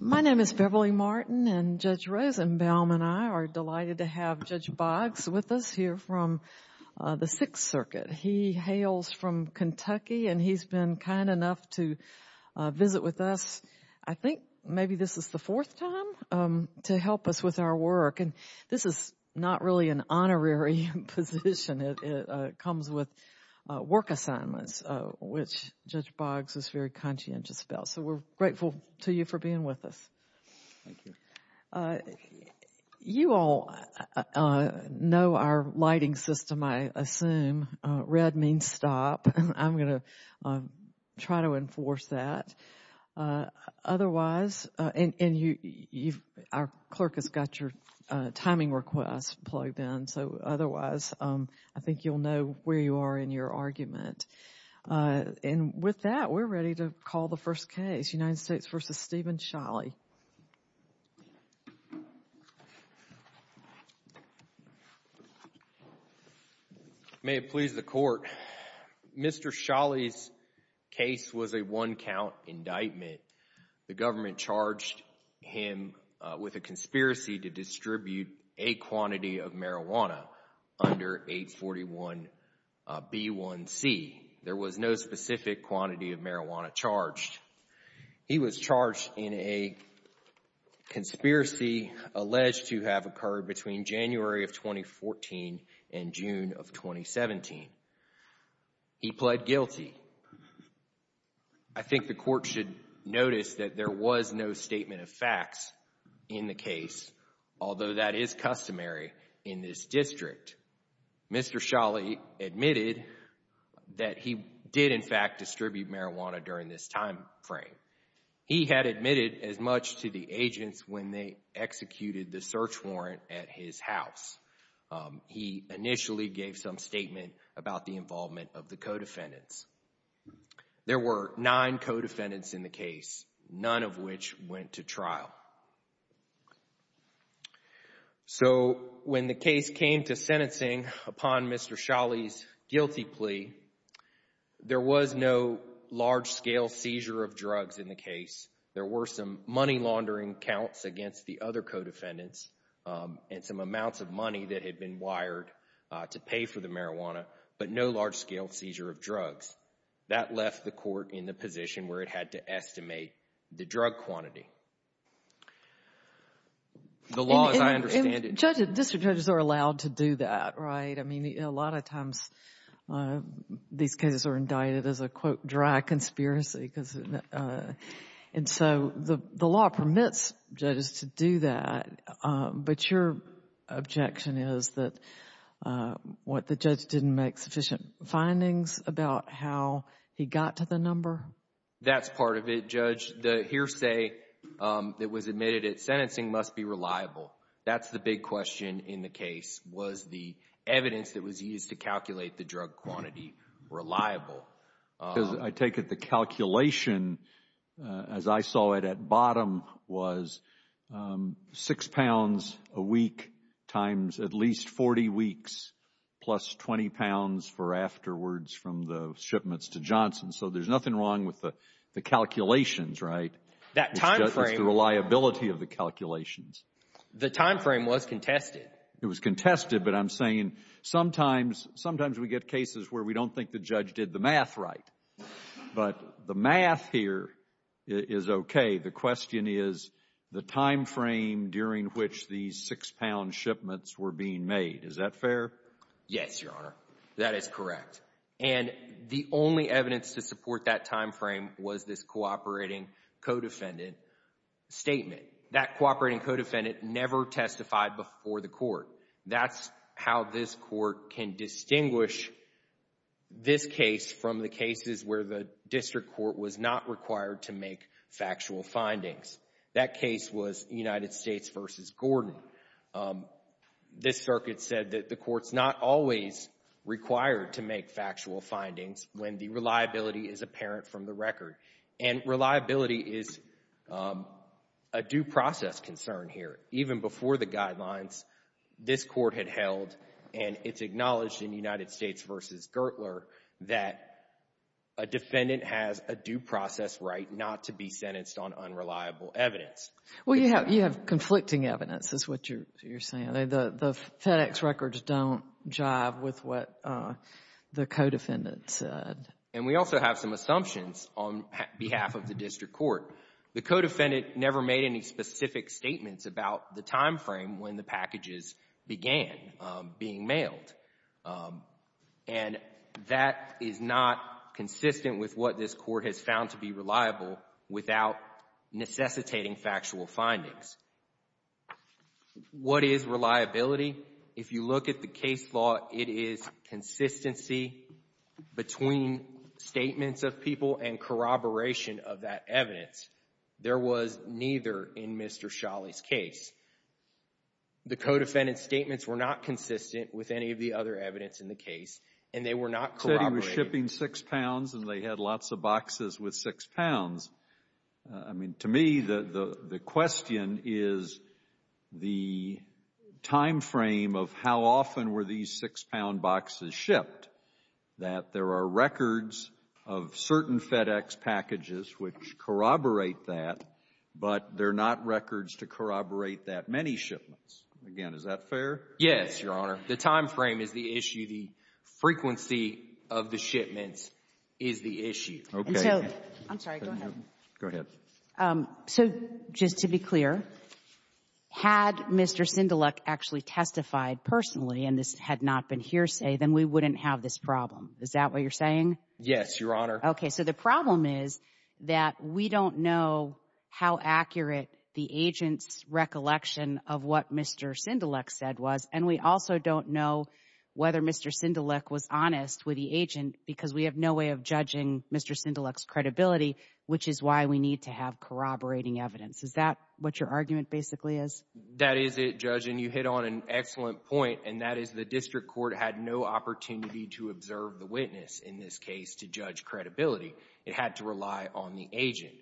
My name is Beverly Martin and Judge Rosenbaum and I are delighted to have Judge Boggs with us here from the Sixth Circuit. He hails from Kentucky and he's been kind enough to visit with us, I think maybe this is the fourth time, to help us with our work. And this is not really an honorary position. It comes with work assignments, which Judge Boggs is very conscientious about. So we're grateful to you for being with us. You all know our lighting system, I assume. Red means stop. I'm gonna try to enforce that. Otherwise, and you, our clerk has got your timing request plugged in, so otherwise I think you'll know where you are in your argument. And with that, we're ready to call the first case, United States v. Steven Sholly. May it please the court, Mr. Sholly's case was a one-count indictment. The government charged him with a conspiracy to distribute a quantity of marijuana under 841B1C. There was no specific quantity of marijuana charged. He was charged in a conspiracy alleged to have occurred between January of 2014 and June of 2017. He pled guilty. I think the court should notice that there was no statement of facts in the case, although that is customary in this district. Mr. Sholly admitted that he did, in fact, distribute marijuana during this timeframe. He had admitted as much to the agents when they executed the search warrant at his house. He initially gave some statement about the involvement of the co-defendants. There were nine co-defendants in the case, none of which went to trial. So when the case came to sentencing upon Mr. Sholly's guilty plea, there was no large-scale seizure of drugs in the case. There were some money laundering counts against the other co-defendants and some amounts of money that had been wired to pay for the marijuana, but no large-scale seizure of drugs. That left the court in the position where it had to estimate the drug quantity. The law, as I understand it, Judge, district judges are allowed to do that, right? I mean, a lot of times these cases are indicted as a, quote, dry conspiracy, and so the law permits judges to do that, but your objection is that what the judge didn't make sufficient findings about how he got to the number. That's part of it, Judge. The hearsay that was admitted at sentencing must be reliable. That's the big question in the case. Was the evidence that was used to calculate the drug quantity reliable? Because I take it the calculation, as I saw it at bottom, was six pounds a week times at least 40 weeks plus 20 pounds for afterwards from the shipments to Johnson. So there's nothing wrong with the calculations, right? That time frame. It's the reliability of the calculations. The time frame was contested. It was contested, but I'm saying sometimes, sometimes we get cases where we don't think the judge did the math right, but the math here is okay. The question is the time frame during which these six-pound shipments were being made. Is that fair? Yes, Your Honor. That is correct. That time frame was this cooperating co-defendant statement. That cooperating co-defendant never testified before the court. That's how this court can distinguish this case from the cases where the district court was not required to make factual findings. That case was United States v. Gordon. This circuit said that the court's not always required to make factual findings when the reliability is apparent from the record, and reliability is a due process concern here. Even before the guidelines, this court had held, and it's acknowledged in United States v. Gertler that a defendant has a due process right not to be sentenced on unreliable evidence. Well, you have conflicting evidence is what you're saying. The FedEx records don't And we also have some assumptions on behalf of the district court. The co-defendant never made any specific statements about the time frame when the packages began being mailed, and that is not consistent with what this court has found to be reliable without necessitating factual findings. What is the case law? It is consistency between statements of people and corroboration of that evidence. There was neither in Mr. Sholley's case. The co-defendant's statements were not consistent with any of the other evidence in the case, and they were not corroborated. You said he was shipping six pounds, and they had lots of boxes with six pounds. I mean, to me, the question is the time frame of how often were these six-pound boxes shipped, that there are records of certain FedEx packages which corroborate that, but they're not records to corroborate that many shipments. Again, is that fair? Yes, Your Honor. The time frame is the issue. The frequency of the shipments is the issue. Okay. And so — I'm sorry. Go ahead. Go ahead. So just to be clear, had Mr. Sindeluk actually testified personally and this had not been hearsay, then we wouldn't have this problem. Is that what you're saying? Yes, Your Honor. Okay. So the problem is that we don't know how accurate the agent's recollection of what Mr. Sindeluk said was, and we also don't know whether Mr. Sindeluk was honest with the agent because we have no way of judging Mr. Sindeluk's credibility, which is why we need to have corroborating evidence. Is that what your argument basically is? That is it, Judge, and you hit on an excellent point, and that is the district court had no opportunity to observe the witness in this case to judge credibility. It had to rely on the agent.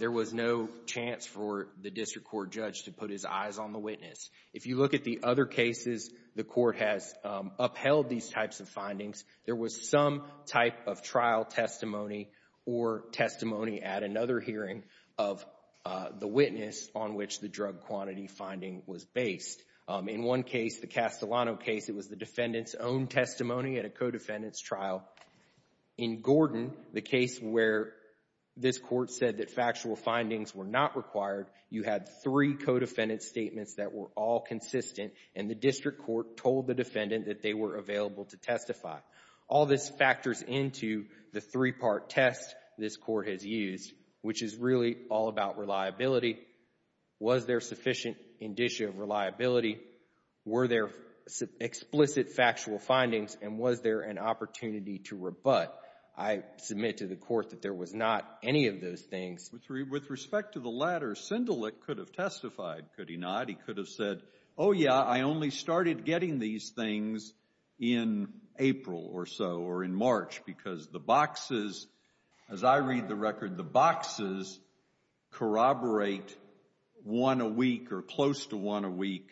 There was no chance for the district court judge to put his eyes on the witness. If you look at the other cases the court has upheld these types of findings, there was some type of trial testimony or testimony at another hearing of the witness on which the drug quantity finding was based. In one case, the Castellano case, it was the defendant's own testimony at a co-defendant's trial. In Gordon, the case where this court said that factual findings were not required, you had three co-defendant statements that were all consistent, and the district court told the defendant that they were available to testify. All this factors into the three-part test this court has used, which is really all about reliability. Was there sufficient indicia of reliability? Were there explicit factual findings, and was there an opportunity to rebut? I submit to the court that there was not any of those things. With respect to the latter, Sindelic could have testified, could he not? He could have said, oh yeah, I only started getting these things in April or so, or in March, because the boxes, as I read the record, the boxes corroborate one a week or close to one a week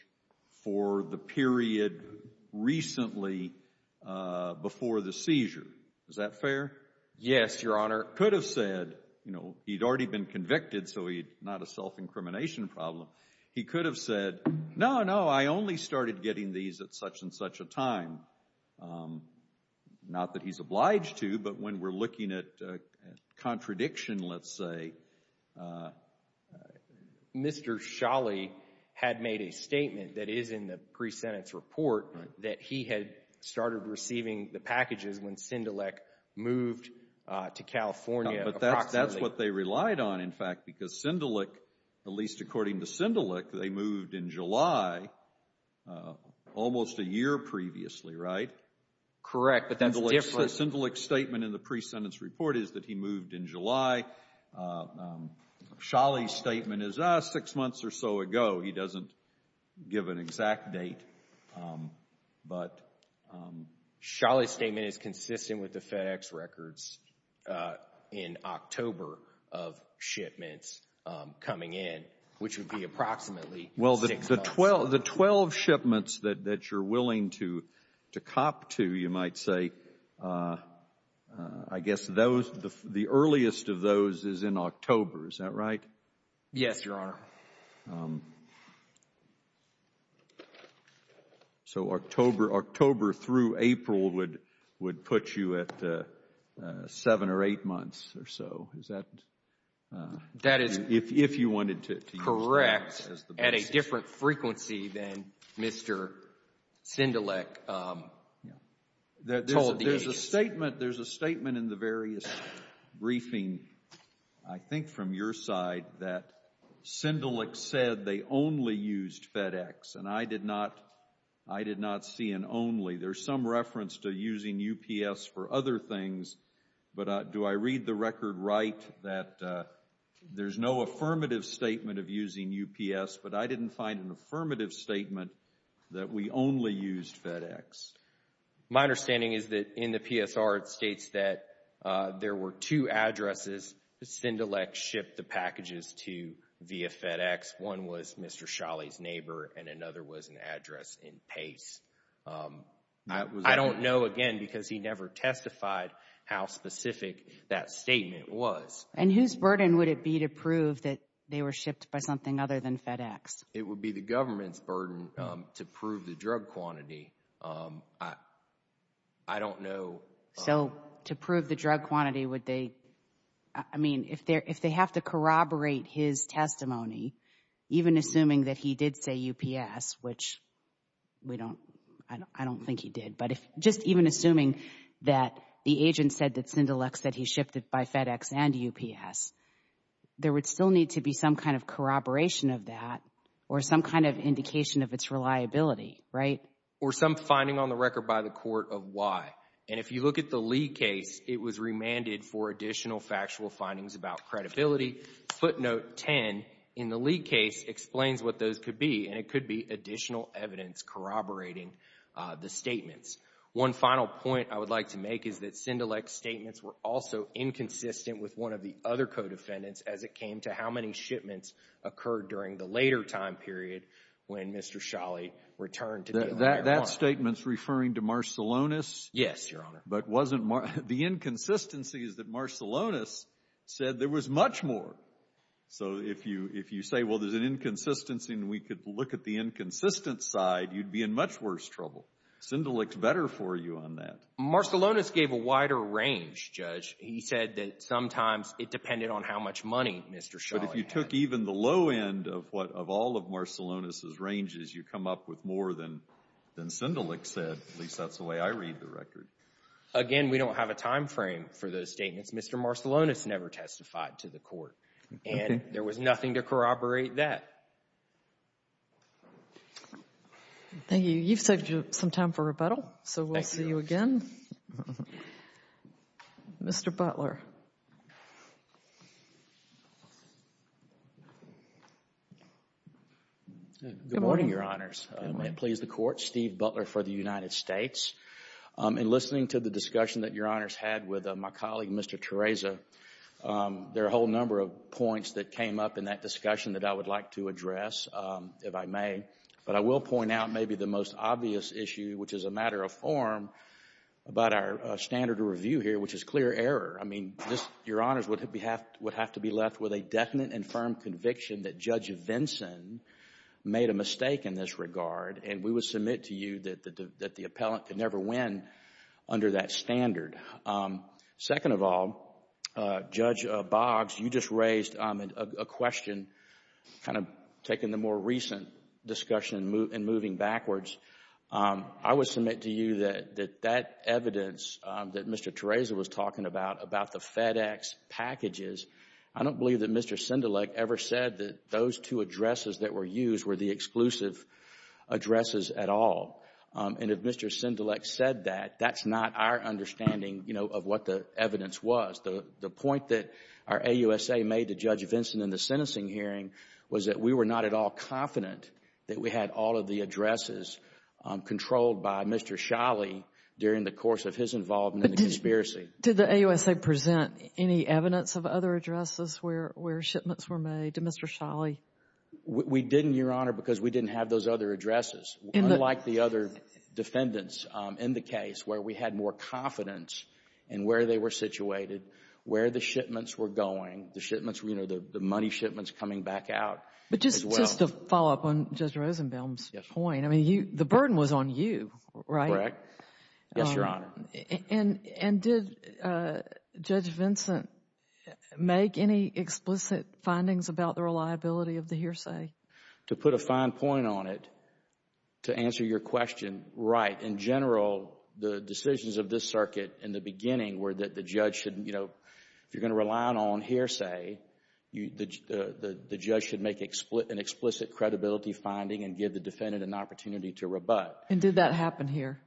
for the period recently before the seizure. Is that fair? Yes, Your Honor. Could have said, you know, he'd already been convicted, so he's not a self-incrimination problem. He could have said, no, no, I only started getting these at such-and-such a time. Not that he's obliged to, but when we're looking at contradiction, let's say, Mr. Sholley had made a statement that is in the pre-sentence report that he had started receiving the packages when Sindelic moved to California. That's what they relied on, in fact, because Sindelic, at least according to Sindelic, they moved in July, almost a year previously, right? Correct, but that's different. Sindelic's statement in the pre-sentence report is that he moved in July. Sholley's statement is, ah, six months or so ago. He doesn't give an exact date, but... Sholley's statement is consistent with the FedEx records in October of approximately six months. Well, the twelve shipments that you're willing to cop to, you might say, I guess the earliest of those is in October. Is that right? Yes, Your Honor. So October through April would put you at seven or eight months or so. Is that... At a different frequency than Mr. Sindelic told the agency. There's a statement, there's a statement in the various briefing, I think from your side, that Sindelic said they only used FedEx and I did not, I did not see an only. There's some reference to using UPS for other things, but do I read the record right that there's no affirmative statement of using UPS, but I didn't find an affirmative statement that we only used FedEx? My understanding is that in the PSR it states that there were two addresses that Sindelic shipped the packages to via FedEx. One was Mr. Sholley's neighbor and another was an address in Pace. I don't know, again, because he never testified how specific that statement was. And whose burden would it be to prove that they were shipped by something other than FedEx? It would be the government's burden to prove the drug quantity. I don't know. So to prove the drug quantity, would they, I mean, if they're, if they have to corroborate his testimony, even assuming that he did say UPS, which we don't, I don't think he did, but if, just even assuming that the agent said that Sindelic said he used UPS, there would still need to be some kind of corroboration of that, or some kind of indication of its reliability, right? Or some finding on the record by the court of why. And if you look at the Lee case, it was remanded for additional factual findings about credibility. Footnote 10 in the Lee case explains what those could be, and it could be additional evidence corroborating the statements. One final point I would like to make is that Sindelic's statements were also inconsistent with one of the other co-defendants as it came to how many shipments occurred during the later time period when Mr. Sholley returned. That statement's referring to Marcellonis? Yes, Your Honor. But wasn't the inconsistency is that Marcellonis said there was much more. So if you, if you say, well, there's an inconsistency and we could look at the inconsistent side, you'd be in much worse trouble. Sindelic's better for you on that. Marcellonis gave a wider range, Judge. He said that sometimes it depended on how much money Mr. Sholley had. But if you took even the low end of what, of all of Marcellonis' ranges, you come up with more than, than Sindelic said. At least that's the way I read the record. Again, we don't have a time frame for those statements. Mr. Marcellonis never testified to the court, and there was nothing to corroborate that. Thank you. You've saved you some time for rebuttal, so we'll see you again. Mr. Butler. Good morning, Your Honors. May it please the Court. Steve Butler for the United States. In listening to the discussion that Your Honors had with my colleague, Mr. Theresa, there are a whole number of points that came up in that discussion that I would like to address, if I may. But I will point out maybe the most obvious issue, which is a matter of form, about our standard of review here, which is clear error. I mean, this, Your Honors, would have to be left with a definite and firm conviction that Judge Vinson made a mistake in this regard, and we would submit to you that the appellant could never win under that standard. Second of all, Judge Boggs, you just raised a question, kind of taking the more recent discussion and moving backwards. I would submit to you that that evidence that Mr. Theresa was talking about, about the FedEx packages, I don't believe that Mr. Sindelic ever said that those two addresses that were used were the exclusive addresses at all. And if Mr. Sindelic said that, that's not our understanding, you know, of what the sentencing hearing was that we were not at all confident that we had all of the addresses controlled by Mr. Sholley during the course of his involvement in the conspiracy. Did the AUSA present any evidence of other addresses where shipments were made to Mr. Sholley? We didn't, Your Honor, because we didn't have those other addresses, unlike the other defendants in the case where we had more confidence in where they were situated, where the shipments were going, the money shipments coming back out. But just to follow up on Judge Rosenbaum's point, I mean, the burden was on you, right? Correct. Yes, Your Honor. And did Judge Vincent make any explicit findings about the reliability of the hearsay? To put a fine point on it, to answer your question, right. In general, the decisions of this circuit in the beginning were that the judge should, you know, hearsay, the judge should make an explicit credibility finding and give the defendant an opportunity to rebut. And did that happen here?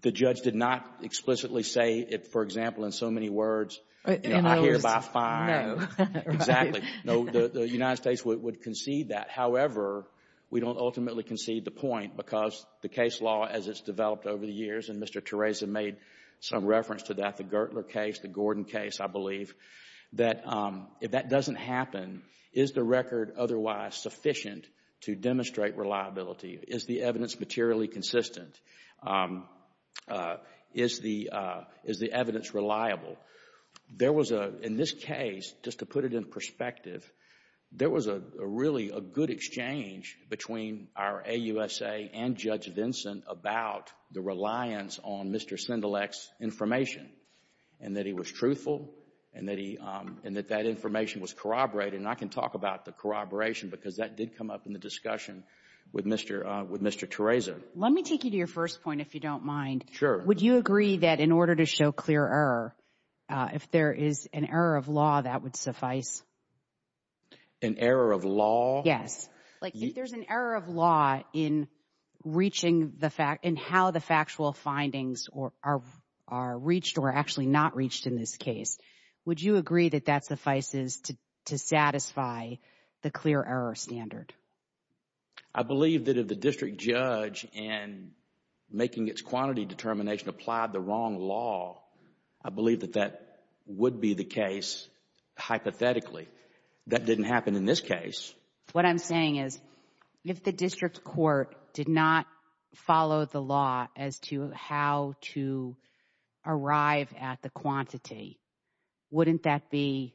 The judge did not explicitly say it, for example, in so many words, you know, I hear by a fine. Exactly. No, the United States would concede that. However, we don't ultimately concede the point because the case law, as it's developed over the years, and Mr. Theresa made some reference to that, the Gertler case, the if that doesn't happen, is the record otherwise sufficient to demonstrate reliability? Is the evidence materially consistent? Is the evidence reliable? There was a, in this case, just to put it in perspective, there was a really a good exchange between our AUSA and Judge Vincent about the reliance on information was corroborated, and I can talk about the corroboration because that did come up in the discussion with Mr. Theresa. Let me take you to your first point, if you don't mind. Sure. Would you agree that in order to show clear error, if there is an error of law, that would suffice? An error of law? Yes. Like, if there's an error of law in reaching the fact, in how the factual findings are reached or actually not reached in this case, would you agree that that suffices to satisfy the clear error standard? I believe that if the district judge, in making its quantity determination, applied the wrong law, I believe that that would be the case, hypothetically. That didn't happen in this case. What I'm saying is, if the district court did not follow the law as to how to arrive at the quantity, wouldn't that be,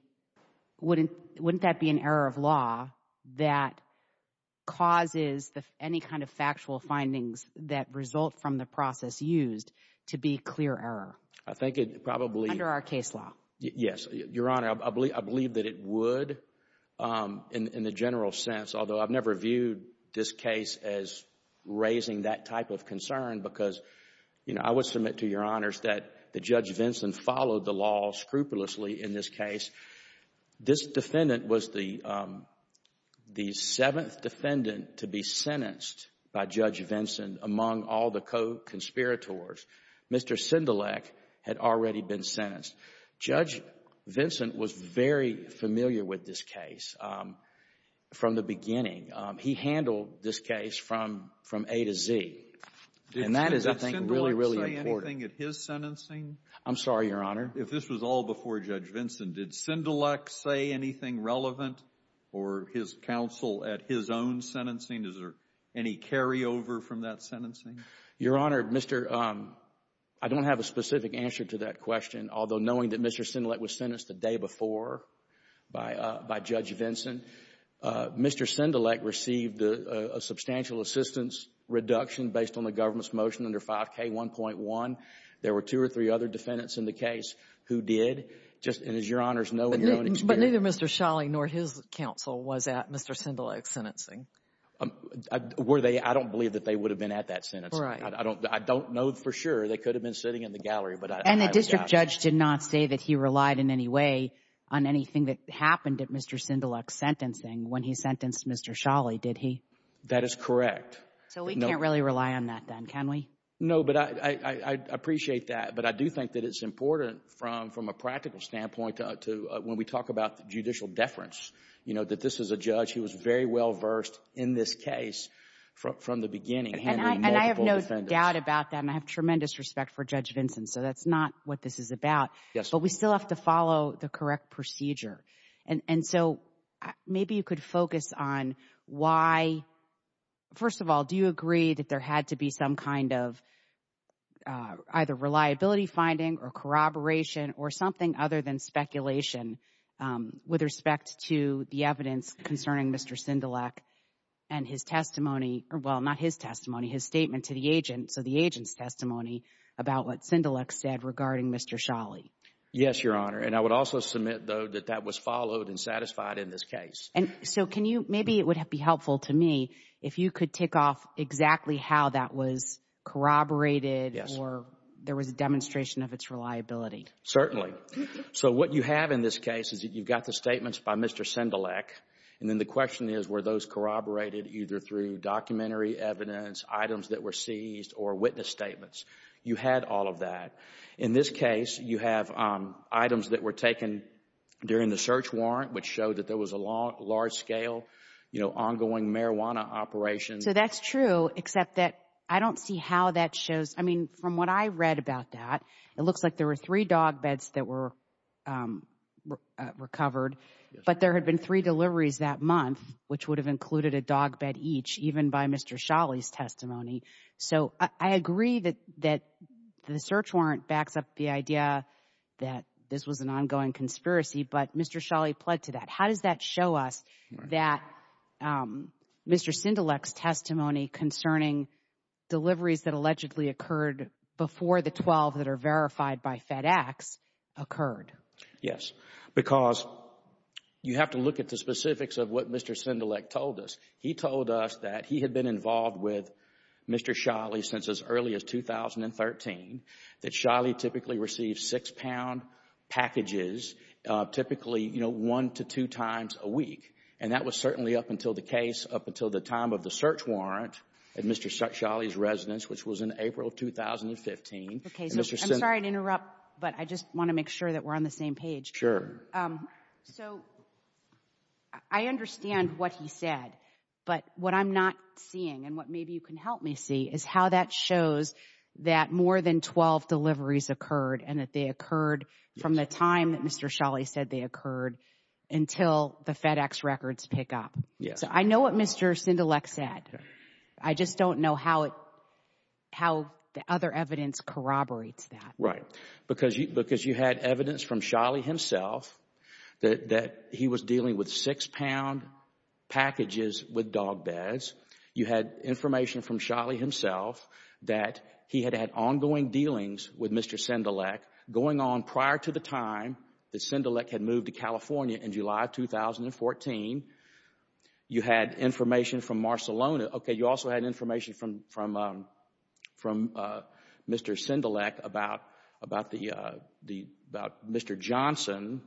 wouldn't that be an error of law that causes any kind of factual findings that result from the process used to be clear error? I think it probably, under our case law. Yes, Your Honor, I believe that it would, in the general sense, although I've never viewed this case as raising that type of concern because, you know, I would submit to Your Honors that the Judge Vinson followed the law scrupulously in this case. This defendant was the the seventh defendant to be sentenced by Judge Vinson among all the co-conspirators. Mr. Sindelic had already been sentenced. Judge Vinson was very familiar with this case from the beginning. He handled this case from A to Z. And that is, I think, really, Did Sindelic say anything at his sentencing? I'm sorry, Your Honor. If this was all before Judge Vinson, did Sindelic say anything relevant or his counsel at his own sentencing? Is there any carryover from that sentencing? Your Honor, Mr. — I don't have a specific answer to that question, although knowing that Mr. Sindelic was sentenced the day before by Judge Vinson, Mr. Sindelic received a substantial assistance reduction based on the government's motion under 5k1.1. There were two or three other defendants in the case who did. Just — and as Your Honors know and experience — But neither Mr. Sholley nor his counsel was at Mr. Sindelic's sentencing. Were they? I don't believe that they would have been at that sentencing. Right. I don't know for sure. They could have been sitting in the gallery, but I — And the district judge did not say that he relied in any way on anything that That is correct. So we can't really rely on that then, can we? No, but I appreciate that, but I do think that it's important from a practical standpoint to when we talk about judicial deference, you know, that this is a judge who was very well-versed in this case from the beginning. And I have no doubt about that, and I have tremendous respect for Judge Vinson, so that's not what this is about, but we still have to follow the correct procedure. And so maybe you could focus on why — first of all, do you agree that there had to be some kind of either reliability finding or corroboration or something other than speculation with respect to the evidence concerning Mr. Sindelic and his testimony — well, not his testimony, his statement to the agent, so the agent's testimony about what Sindelic said regarding Mr. Sholley? Yes, Your Honor, and I would also submit, though, that that was followed and satisfied in this case. And so can you — maybe it would be helpful to me if you could tick off exactly how that was corroborated or there was a demonstration of its reliability. Certainly. So what you have in this case is that you've got the statements by Mr. Sindelic, and then the question is were those corroborated either through documentary evidence, items that were seized, or witness statements? You had all of that. In this case, you have items that were taken during the search warrant, which showed that there was a large-scale, you know, ongoing marijuana operation. So that's true, except that I don't see how that shows — I mean, from what I read about that, it looks like there were three dog beds that were recovered, but there had been three deliveries that month, which would have included a dog bed each, even by Mr. Sholley's testimony. So I agree that the search warrant backs up the idea that this was an ongoing conspiracy, but Mr. Sholley pled to that. How does that show us that Mr. Sindelic's testimony concerning deliveries that allegedly occurred before the 12 that are verified by FedEx occurred? Yes, because you have to look at the specifics of what Mr. Sindelic told us. He told us that he had been involved with Mr. Sholley since as early as 2013, that Sholley typically received six-pound packages, typically, you know, one to two times a week. And that was certainly up until the case, up until the time of the search warrant at Mr. Sholley's residence, which was in April of 2015. Okay, so I'm sorry to interrupt, but I just want to make sure that we're on the same page. Sure. So I understand what he said, but what I'm not seeing and what maybe you can help me see is how that shows that more than 12 deliveries occurred and that they occurred from the time that Mr. Sholley said they occurred until the FedEx records pick up. So I know what Mr. Sindelic said. I just don't know how it, how the other evidence corroborates that. Right. Because you had evidence from Sholley himself that he was dealing with six-pound packages with dog beds. You had information from Sholley himself that he had had ongoing dealings with Mr. Sindelic going on prior to the time that Sindelic had moved to California in July of 2014. You had information from Marcelona. Okay, you also had information from Mr. Sindelic about Mr. Johnson.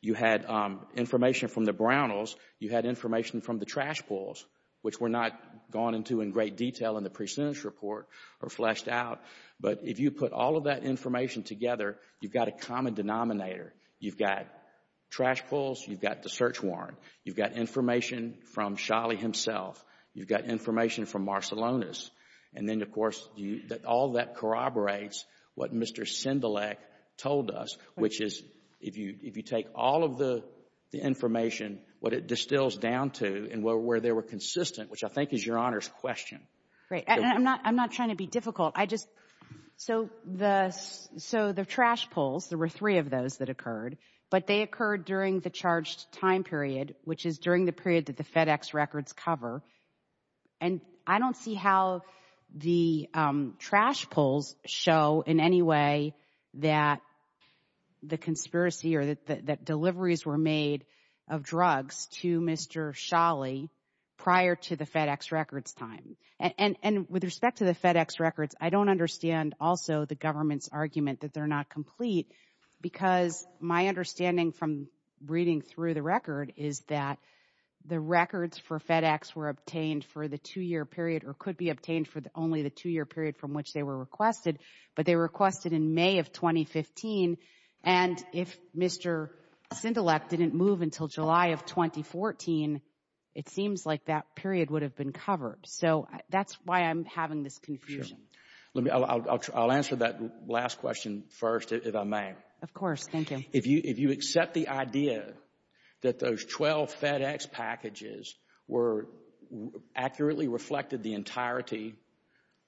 You had information from the Brownells. You had information from the trash pulls, which we're not going into in great detail in the precedence report or fleshed out. But if you put all of that information together, you've got a common denominator. You've got trash pulls. You've got the search warrant. You've got information from Marcelona. And then, of course, all that corroborates what Mr. Sindelic told us, which is if you take all of the information, what it distills down to and where they were consistent, which I think is Your Honor's question. Great. And I'm not trying to be difficult. I just, so the trash pulls, there were three of those that occurred, but they occurred during the I don't see how the trash pulls show in any way that the conspiracy or that deliveries were made of drugs to Mr. Sholley prior to the FedEx records time. And with respect to the FedEx records, I don't understand also the government's argument that they're not complete because my understanding from reading through the record is that the records for FedEx were obtained for the two-year period or could be obtained for only the two-year period from which they were requested, but they requested in May of 2015. And if Mr. Sindelic didn't move until July of 2014, it seems like that period would have been covered. So that's why I'm having this confusion. Let me, I'll answer that last question first, if I may. Of course. Thank you. If you accept the idea that those 12 FedEx packages were accurately reflected the entirety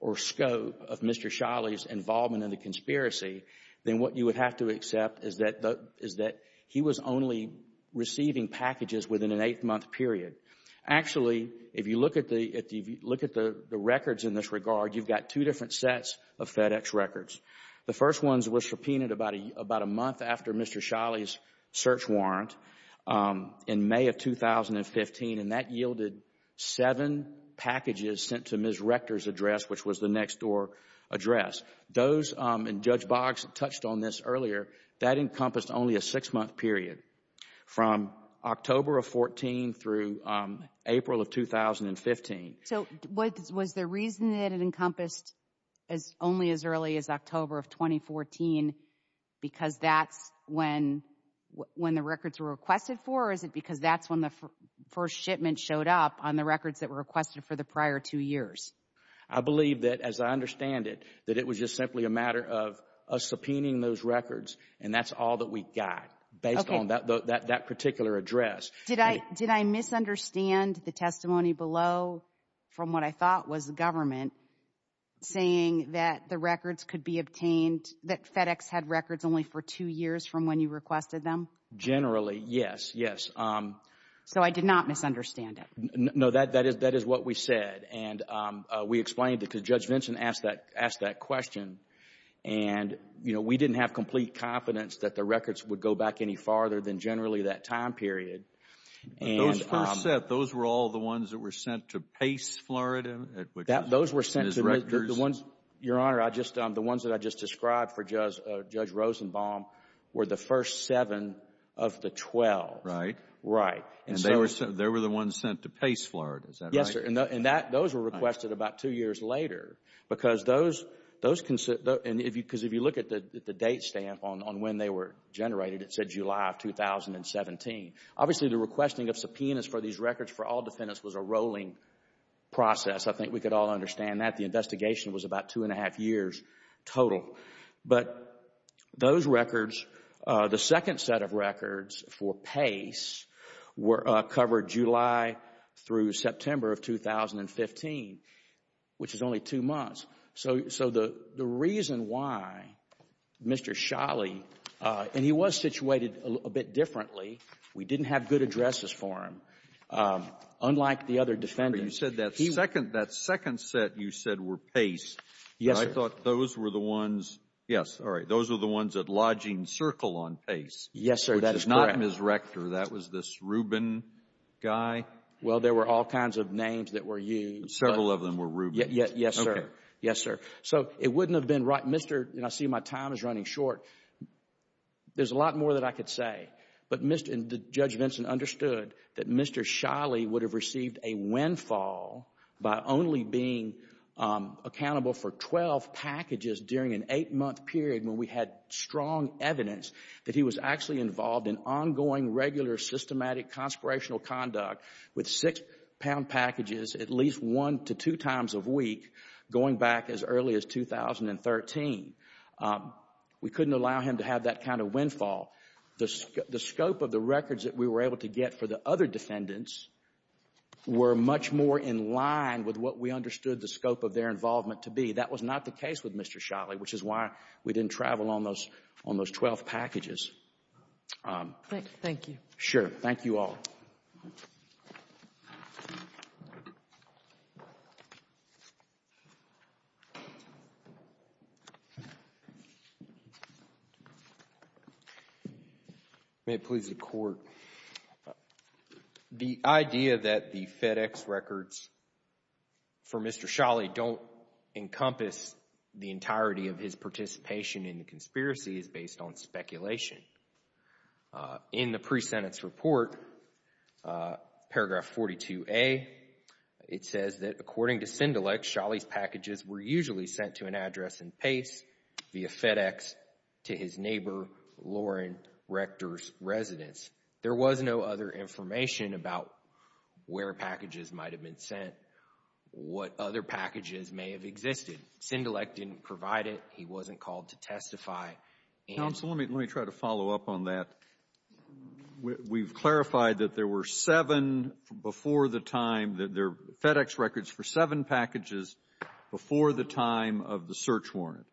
or scope of Mr. Sholley's involvement in the conspiracy, then what you would have to accept is that he was only receiving packages within an eight-month period. Actually, if you look at the records in this regard, you've got two different sets of FedEx records. The first ones were Sholley's search warrant in May of 2015, and that yielded seven packages sent to Ms. Rector's address, which was the next door address. Those, and Judge Boggs touched on this earlier, that encompassed only a six-month period from October of 14 through April of 2015. So was the reason that it encompassed as only as early as October of 2014 because that's when the records were requested for, or is it because that's when the first shipment showed up on the records that were requested for the prior two years? I believe that, as I understand it, that it was just simply a matter of us subpoenaing those records, and that's all that we got based on that particular address. Did I misunderstand the testimony below from what I thought was the government saying that the records could be obtained, that FedEx had records only for two years from when you requested them? Generally, yes, yes. So I did not misunderstand it? No, that is what we said, and we explained it because Judge Vinson asked that question, and we didn't have complete confidence that the records would go back any farther than generally that time period. Those first set, those were all the ones that were sent to Pace, Florida? Those were sent to the ones, Your Honor, the ones that I just described for Judge Rosenbaum were the first seven of the 12. Right. Right. And they were the ones sent to Pace, Florida. Is that right? Yes, sir, and those were requested about two years later because those, because if you look at the date stamp on when they were generated, it said July of 2017. Obviously, the requesting of subpoenas for these records for all defendants was a rolling process. I think we could all understand that. The investigation was about two and a half years total. But those records, the second set of records for Pace were covered July through September of 2015, which is only two months. So the reason why Mr. Schley, and he was situated a bit differently. We didn't have good addresses for him. Unlike the other defendants. You said that second, that second set you said were Pace. Yes. I thought those were the ones. Yes. All right. Those are the ones that lodging circle on Pace. Yes, sir. That is not Ms. Rector. That was this Rubin guy. Well, there were all kinds of names that were used. Several of them were Rubin. Yes, sir. Yes, sir. So it wouldn't have been right. Mr. And I see my time is running short. There's a lot more that I could say. But Mr. Judge Vincent understood that Mr. Schley would have received a windfall by only being accountable for 12 packages during an eight month period when we had strong evidence that he was actually involved in ongoing, regular, systematic, conspirational conduct with six pound packages at least one to two times of week going back as early as 2013. We couldn't allow him to have that kind of windfall. The scope of the records that we were able to get for the other defendants were much more in line with what we understood the scope of their involvement to be. That was not the case with Mr. Schley, which is why we didn't travel on those 12 packages. Thank you. Sure. Thank you all. May it please the court. The idea that the FedEx records for Mr. Schley don't encompass the entirety of his participation in the conspiracy is based on speculation. In the pre-sentence report, paragraph 42A, it says that according to Send-Elect, Schley's packages were usually sent to an address in Pace via FedEx to his neighbor, Lauren, Rector's residence. There was no other information about where packages might have been sent, what other packages may have existed. Send-Elect didn't provide it. He wasn't called to testify. Counsel, let me try to follow up on that. We've clarified that there were seven before the time that their FedEx records for seven packages before the time of the search warrant.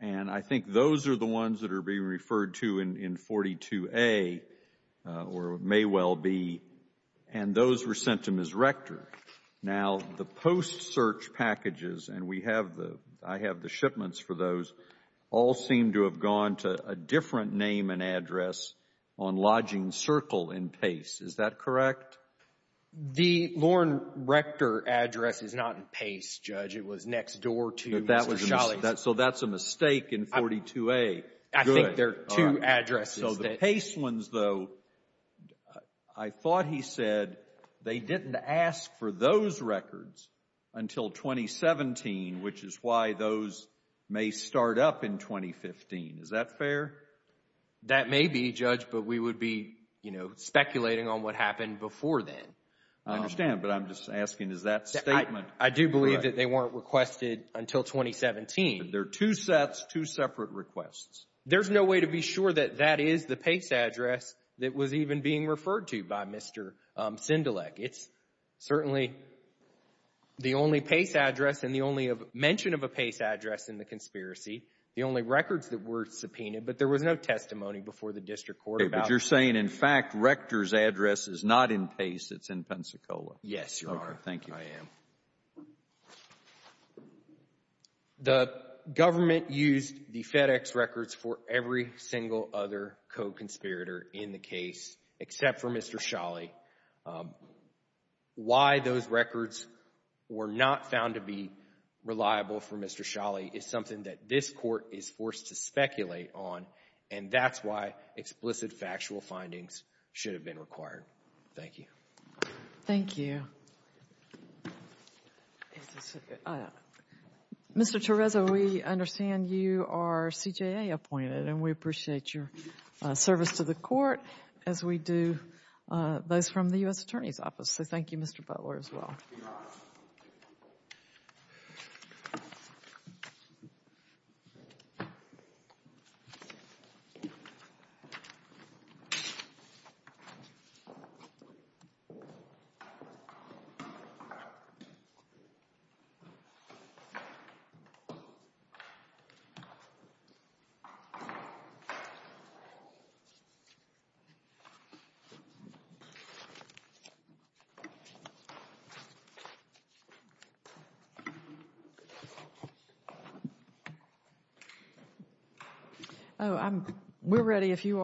And I think those are the ones that are being referred to in 42A, or may well be, and those were sent to Ms. Rector. Now, the post-search packages, and I have the shipments for those, all seem to have gone to a different name and address on lodging circle in Pace. Is that correct? The Lauren Rector address is not in Pace, Judge. It was next door to Mr. Schley's. So that's a mistake in 42A. I think there are two addresses. So the Pace ones, though, I thought he said they didn't ask for those records until 2017, which is why those may start up in 2015. Is that fair? That may be, Judge, but we would be, you know, speculating on what happened before then. I understand, but I'm just asking, is that statement correct? They weren't requested until 2017. They're two sets, two separate requests. There's no way to be sure that that is the Pace address that was even being referred to by Mr. Sindelik. It's certainly the only Pace address and the only mention of a Pace address in the conspiracy, the only records that were subpoenaed, but there was no testimony before the district court about it. But you're saying, in fact, Rector's address is not in Pace. It's in Pensacola. Yes, you are. Thank you. I am. The government used the FedEx records for every single other co-conspirator in the case except for Mr. Sholley. Why those records were not found to be reliable for Mr. Sholley is something that this Court is forced to speculate on, and that's why explicit factual findings should have been required. Thank you. Thank you. Mr. Tereza, we understand you are CJA appointed, and we appreciate your service to the Court as we do those from the U.S. Attorney's Office. So, thank you, Mr. Butler, as well. Thank you. Oh, we're ready if you are.